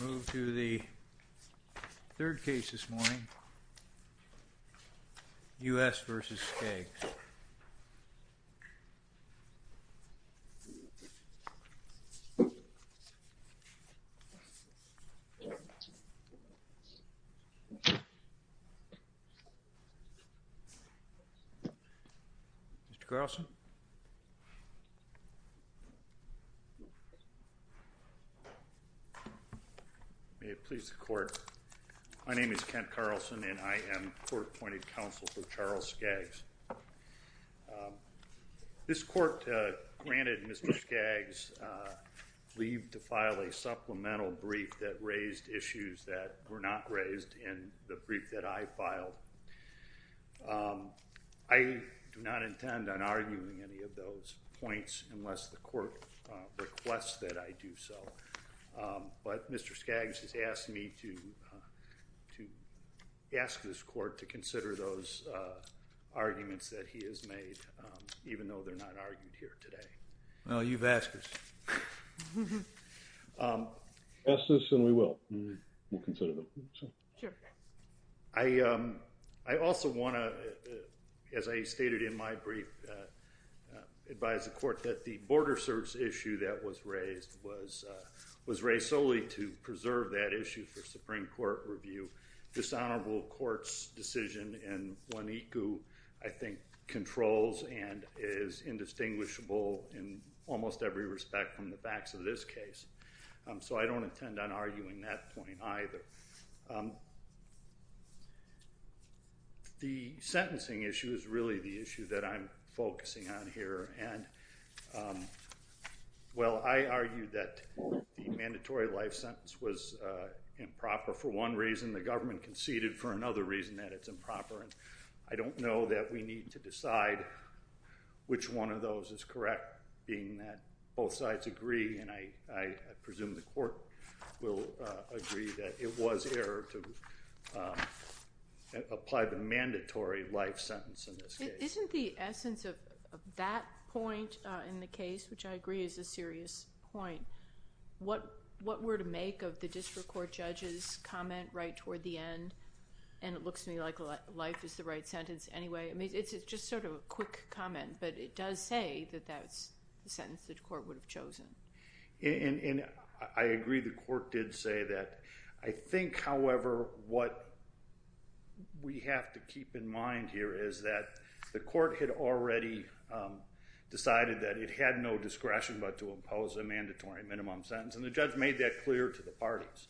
We move to the third case this morning, U.S. v. Skaggs. Mr. Carlson? May it please the court, my name is Kent Carlson and I am court-appointed counsel for Charles Skaggs. This court granted Mr. Skaggs leave to file a supplemental brief that raised issues that were not raised in the brief that I filed. I do not intend on arguing any of those points unless the court requests that I do so. But Mr. Skaggs has asked me to ask this court to consider those arguments that he has made, even though they're not argued here today. Well, you've asked us. He's asked us and we will. We'll consider them. Sure. I also want to, as I stated in my brief, advise the court that the border search issue that was raised was raised solely to preserve that issue for Supreme Court review. Dishonorable courts' decision in Juanico, I think, controls and is indistinguishable in almost every respect from the facts of this case. So I don't intend on arguing that point either. The sentencing issue is really the issue that I'm focusing on here. Well, I argued that the mandatory life sentence was improper for one reason. The government conceded for another reason that it's improper. And I don't know that we need to decide which one of those is correct, being that both sides agree. And I presume the court will agree that it was error to apply the mandatory life sentence in this case. Isn't the essence of that point in the case, which I agree is a serious point, what we're to make of the district court judge's comment right toward the end? And it looks to me like life is the right sentence anyway. I mean, it's just sort of a quick comment. But it does say that that's the sentence the court would have chosen. And I agree the court did say that. I think, however, what we have to keep in mind here is that the court had already decided that it had no discretion but to impose a mandatory minimum sentence. And the judge made that clear to the parties.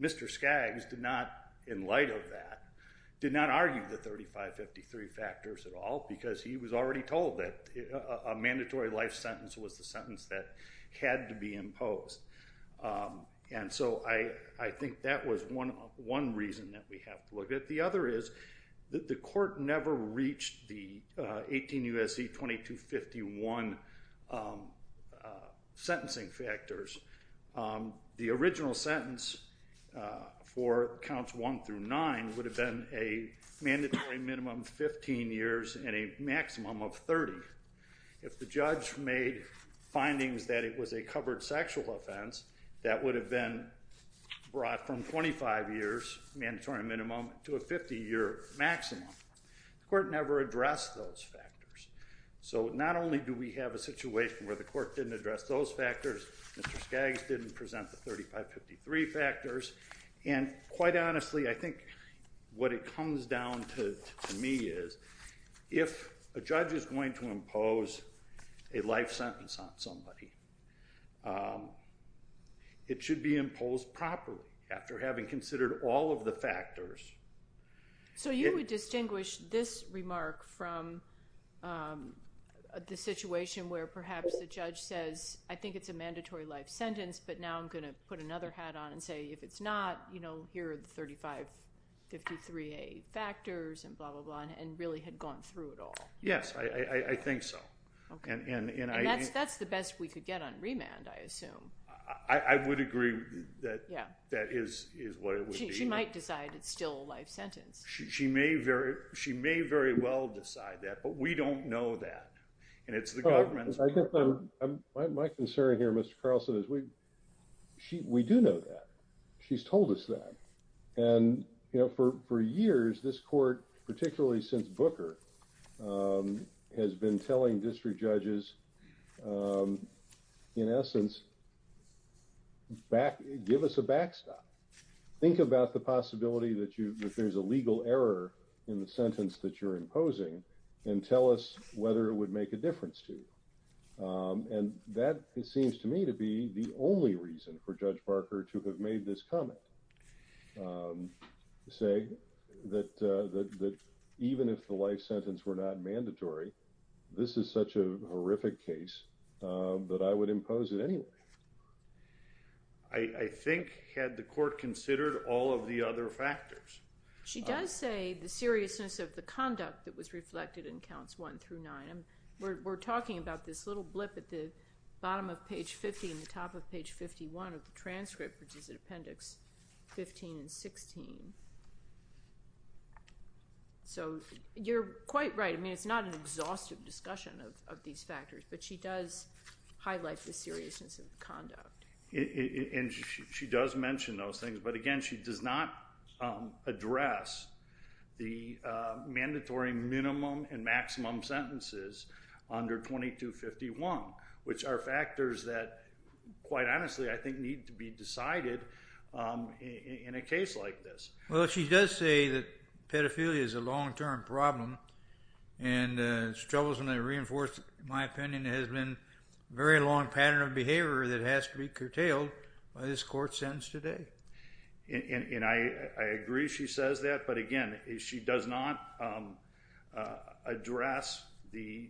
Mr. Skaggs did not, in light of that, did not argue the 3553 factors at all because he was already told that a mandatory life sentence was the sentence that had to be imposed. And so I think that was one reason that we have to look at. The other is that the court never reached the 18 U.S.C. 2251 sentencing factors. The original sentence for counts one through nine would have been a mandatory minimum 15 years and a maximum of 30. If the judge made findings that it was a covered sexual offense, that would have been brought from 25 years, mandatory minimum, to a 50-year maximum. The court never addressed those factors. So not only do we have a situation where the court didn't address those factors, Mr. Skaggs didn't present the 3553 factors. And quite honestly, I think what it comes down to me is if a judge is going to impose a life sentence on somebody, it should be imposed properly after having considered all of the factors. So you would distinguish this remark from the situation where perhaps the judge says, I think it's a mandatory life sentence, but now I'm going to put another hat on and say, if it's not, here are the 3553A factors and blah, blah, blah, and really had gone through it all. Yes, I think so. And that's the best we could get on remand, I assume. I would agree that that is what it would be. She might decide it's still a life sentence. She may very well decide that, but we don't know that. And it's the government's part of it. My concern here, Mr. Carlson, is we do know that. She's told us that. And, you know, for years, this court, particularly since Booker, has been telling district judges, in essence, give us a backstop. Think about the possibility that there's a legal error in the sentence that you're imposing and tell us whether it would make a difference to you. And that seems to me to be the only reason for Judge Barker to have made this comment, to say that even if the life sentence were not mandatory, this is such a horrific case that I would impose it anyway. I think had the court considered all of the other factors. She does say the seriousness of the conduct that was reflected in counts one through nine. And we're talking about this little blip at the bottom of page 50 and the top of page 51 of the transcript, which is at appendix 15 and 16. So you're quite right. I mean, it's not an exhaustive discussion of these factors, but she does highlight the seriousness of the conduct. And she does mention those things. But again, she does not address the mandatory minimum and maximum sentences under 2251, which are factors that, quite honestly, I think need to be decided in a case like this. Well, she does say that pedophilia is a long-term problem and struggles to reinforce, in my opinion, has been a very long pattern of behavior that has to be curtailed by this court's sentence today. And I agree she says that. But again, she does not address the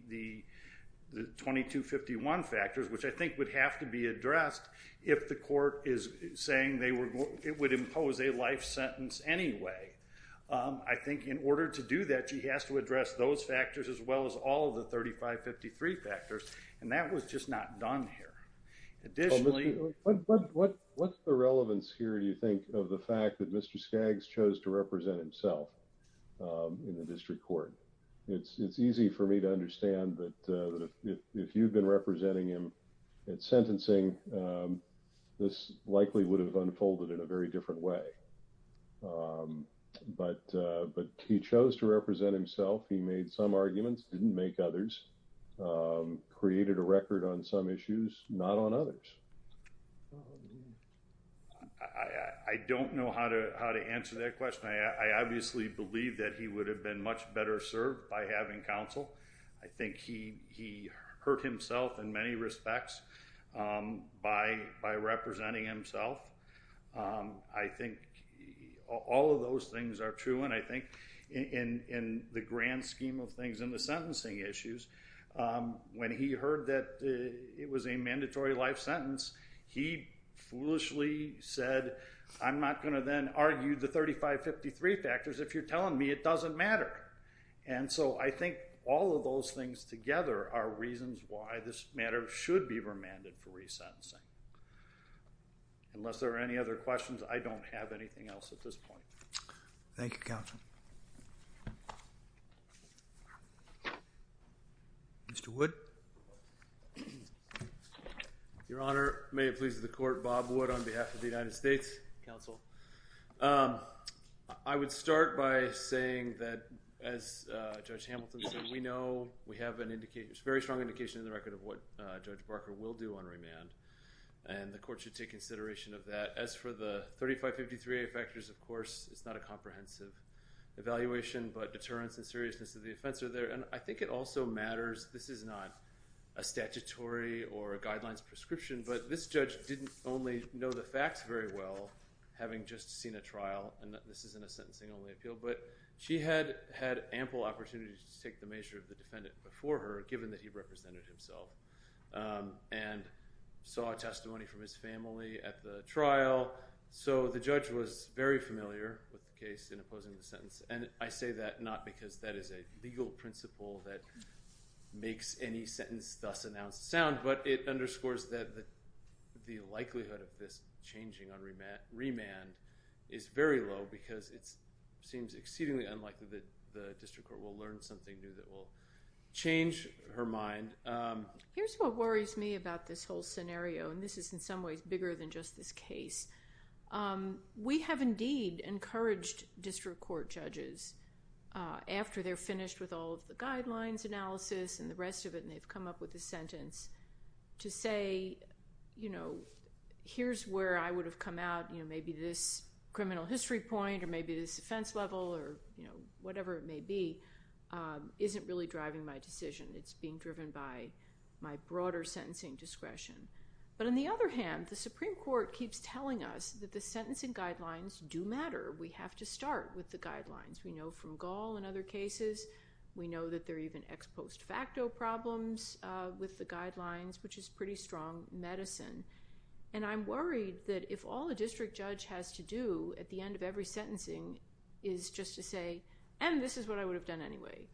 2251 factors, which I think would have to be addressed if the court is saying it would impose a life sentence anyway. I think in order to do that, she has to address those factors as well as all of the 3553 factors. And that was just not done here. What's the relevance here, do you think, of the fact that Mr. Skaggs chose to represent himself in the district court? It's easy for me to understand that if you've been representing him at sentencing, this likely would have unfolded in a very different way. But he chose to represent himself. He made some arguments, didn't make others, created a record on some issues, not on others. I don't know how to answer that question. I obviously believe that he would have been much better served by having counsel. I think he hurt himself in many respects by representing himself. I think all of those things are true. And I think in the grand scheme of things in the sentencing issues, when he heard that it was a mandatory life sentence, he foolishly said, I'm not going to then argue the 3553 factors if you're telling me it doesn't matter. And so I think all of those things together are reasons why this matter should be remanded for resentencing. Unless there are any other questions, I don't have anything else at this point. Thank you, Counsel. Mr. Wood? Your Honor, may it please the Court, Bob Wood on behalf of the United States Counsel. I would start by saying that, as Judge Hamilton said, we know we have a very strong indication in the record of what Judge Barker will do on remand. And the Court should take consideration of that. As for the 3553 factors, of course, it's not a comprehensive evaluation, but deterrence and seriousness of the offense are there. And I think it also matters – this is not a statutory or a guidelines prescription, but this judge didn't only know the facts very well, having just seen a trial. And this isn't a sentencing-only appeal, but she had ample opportunity to take the measure of the defendant before her, given that he represented himself and saw testimony from his family at the trial. So the judge was very familiar with the case in opposing the sentence. And I say that not because that is a legal principle that makes any sentence thus announced sound, but it underscores that the likelihood of this changing on remand is very low because it seems exceedingly unlikely that the district court will learn something new that will change her mind. Here's what worries me about this whole scenario, and this is in some ways bigger than just this case. We have indeed encouraged district court judges, after they're finished with all of the guidelines analysis and the rest of it and they've come up with a sentence, to say, you know, here's where I would have come out. Maybe this criminal history point or maybe this offense level or whatever it may be isn't really driving my decision. It's being driven by my broader sentencing discretion. But on the other hand, the Supreme Court keeps telling us that the sentencing guidelines do matter. We have to start with the guidelines. We know from Gall in other cases, we know that there are even ex post facto problems with the guidelines, which is pretty strong medicine. And I'm worried that if all a district judge has to do at the end of every sentencing is just to say, and this is what I would have done anyway,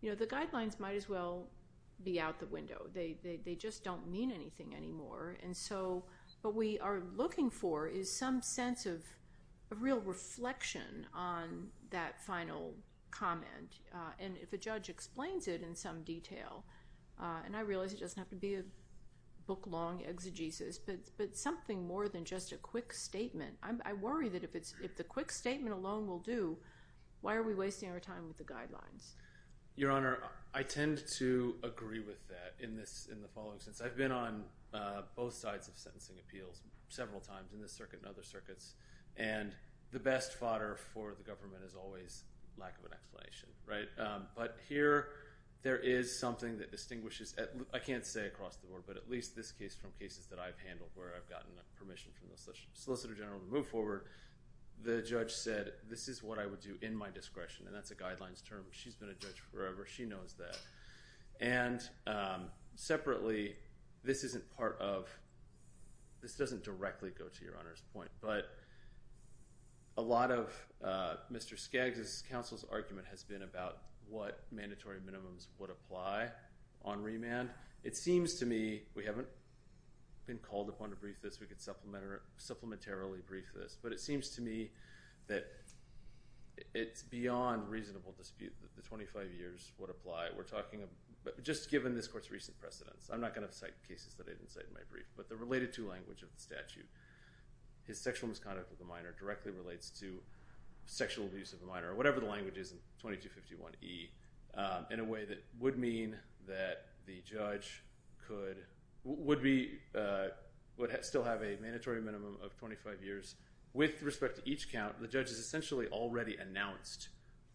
you know, the guidelines might as well be out the window. They just don't mean anything anymore. And so what we are looking for is some sense of a real reflection on that final comment. And if a judge explains it in some detail, and I realize it doesn't have to be a book long exegesis, but something more than just a quick statement. I worry that if the quick statement alone will do, why are we wasting our time with the guidelines? Your Honor, I tend to agree with that in the following sense. I've been on both sides of sentencing appeals several times in this circuit and other circuits, and the best fodder for the government is always lack of an explanation, right? But here there is something that distinguishes, I can't say across the board, but at least this case from cases that I've handled where I've gotten permission from the solicitor general to move forward. The judge said, this is what I would do in my discretion, and that's a guidelines term. She's been a judge forever. She knows that. And separately, this isn't part of, this doesn't directly go to Your Honor's point, but a lot of Mr. Skaggs' counsel's argument has been about what mandatory minimums would apply on remand. It seems to me, we haven't been called upon to brief this, we could supplementarily brief this, but it seems to me that it's beyond reasonable dispute that the 25 years would apply. We're talking, just given this court's recent precedence, I'm not going to cite cases that I didn't cite in my brief, but the related to language of the statute, his sexual misconduct with a minor directly relates to sexual abuse of a minor, or whatever the language is in 2251E, in a way that would mean that the judge could, would be, would still have a mandatory minimum of 25 years. With respect to each count, the judge has essentially already announced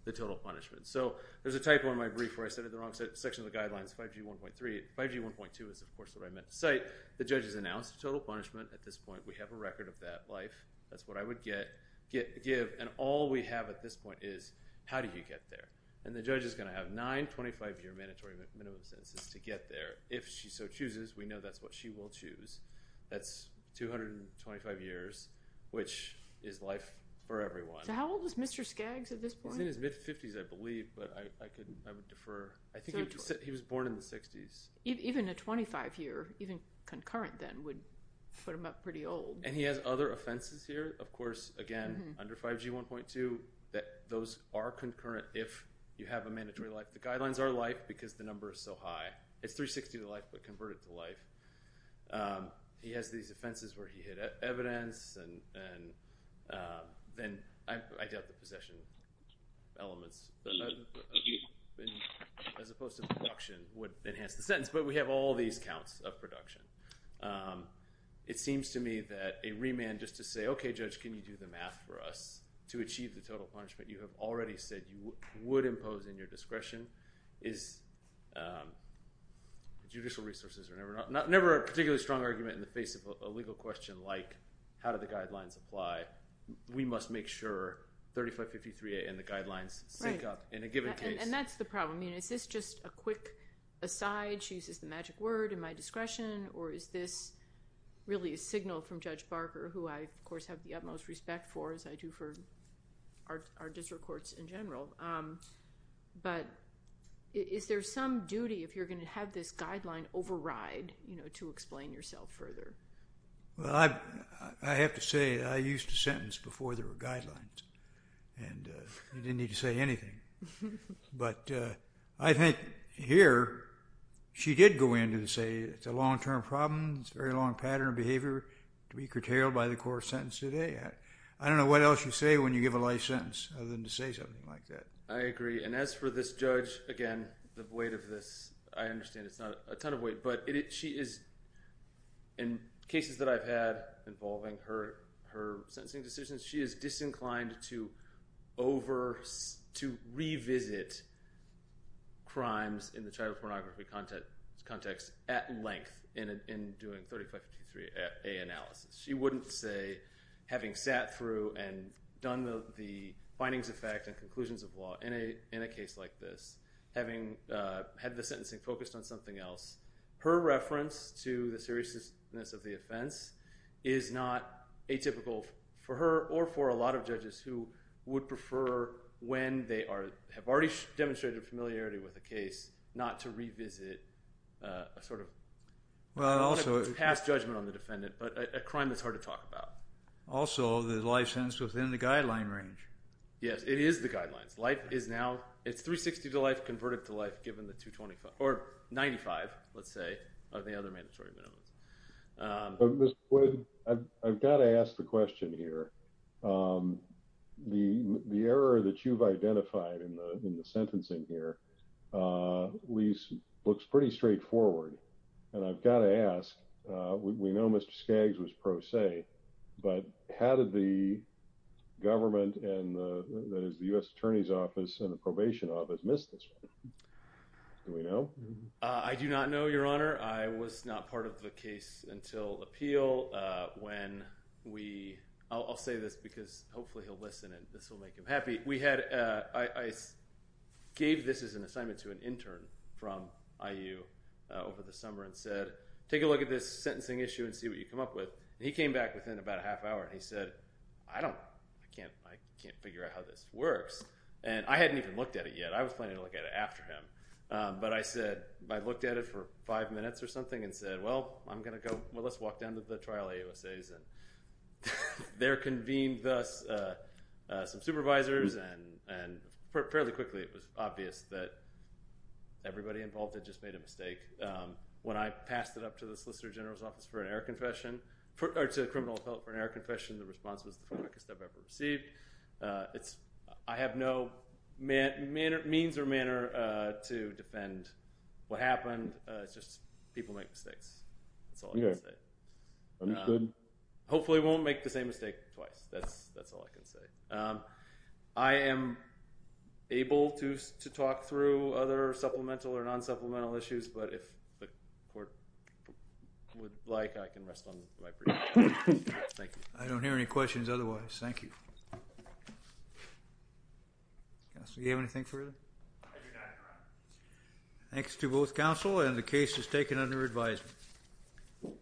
the total punishment. So there's a typo in my brief where I said in the wrong section of the guidelines, 5G1.3. 5G1.2 is, of course, what I meant to cite. The judge has announced the total punishment at this point. We have a record of that life. That's what I would get, give, and all we have at this point is how do you get there? And the judge is going to have nine 25-year mandatory minimum sentences to get there. If she so chooses, we know that's what she will choose. That's 225 years, which is life for everyone. So how old is Mr. Skaggs at this point? He's in his mid-50s, I believe, but I would defer. I think he was born in the 60s. Even a 25-year, even concurrent then, would put him up pretty old. And he has other offenses here, of course, again, under 5G1.2, that those are concurrent if you have a mandatory life. The guidelines are life because the number is so high. It's 360 to life, but convert it to life. He has these offenses where he hit evidence, and then I doubt the possession elements, as opposed to production would enhance the sentence. But we have all these counts of production. It seems to me that a remand just to say, okay, judge, can you do the math for us to achieve the total punishment you have already said you would impose in your discretion is judicial resources are never a particularly strong argument in the face of a legal question like, how do the guidelines apply? We must make sure 3553A and the guidelines sync up in a given case. And that's the problem. Is this just a quick aside? She uses the magic word, am I discretion, or is this really a signal from Judge Barker, who I, of course, have the utmost respect for, as I do for our district courts in general? But is there some duty if you're going to have this guideline override to explain yourself further? Well, I have to say I used to sentence before there were guidelines, and you didn't need to say anything. But I think here she did go in and say it's a long-term problem. It's a very long pattern of behavior to be curtailed by the court sentence today. I don't know what else you say when you give a life sentence other than to say something like that. I agree. And as for this judge, again, the weight of this, I understand it's not a ton of weight, but she is, in cases that I've had involving her sentencing decisions, she is disinclined to revisit crimes in the child pornography context at length in doing 3553A analysis. She wouldn't say, having sat through and done the findings of fact and conclusions of law in a case like this, having had the sentencing focused on something else, her reference to the seriousness of the offense is not atypical for her or for a lot of judges who would prefer when they have already demonstrated familiarity with a case not to revisit a sort of past judgment on the defendant. But a crime that's hard to talk about. Also, the life sentence within the guideline range. Yes, it is the guidelines. Life is now, it's 360 to life converted to life given the 225, or 95, let's say, of the other mandatory minimums. But, Mr. Wood, I've got to ask the question here. The error that you've identified in the sentencing here looks pretty straightforward. And I've got to ask, we know Mr. Skaggs was pro se, but how did the government and the U.S. Attorney's Office and the probation office miss this one? Do we know? I do not know, Your Honor. I was not part of the case until appeal when we, I'll say this because hopefully he'll listen and this will make him happy. I gave this as an assignment to an intern from IU over the summer and said, take a look at this sentencing issue and see what you come up with. And he came back within about a half hour and he said, I don't, I can't figure out how this works. And I hadn't even looked at it yet. I was planning to look at it after him. But I said, I looked at it for five minutes or something and said, well, I'm going to go, well, let's walk down to the trial AUSAs. And there convened thus some supervisors and fairly quickly it was obvious that everybody involved had just made a mistake. When I passed it up to the Solicitor General's Office for an air confession, or to the criminal appellate for an air confession, the response was the darkest I've ever received. I have no means or manner to defend what happened. It's just people make mistakes. That's all I can say. Hopefully we won't make the same mistake twice. That's all I can say. I am able to talk through other supplemental or non-supplemental issues. But if the court would like, I can rest on my laurels. Thank you. I don't hear any questions otherwise. Thank you. Counsel, do you have anything further? I do not, Your Honor. Thanks to both counsel. And the case is taken under advisement.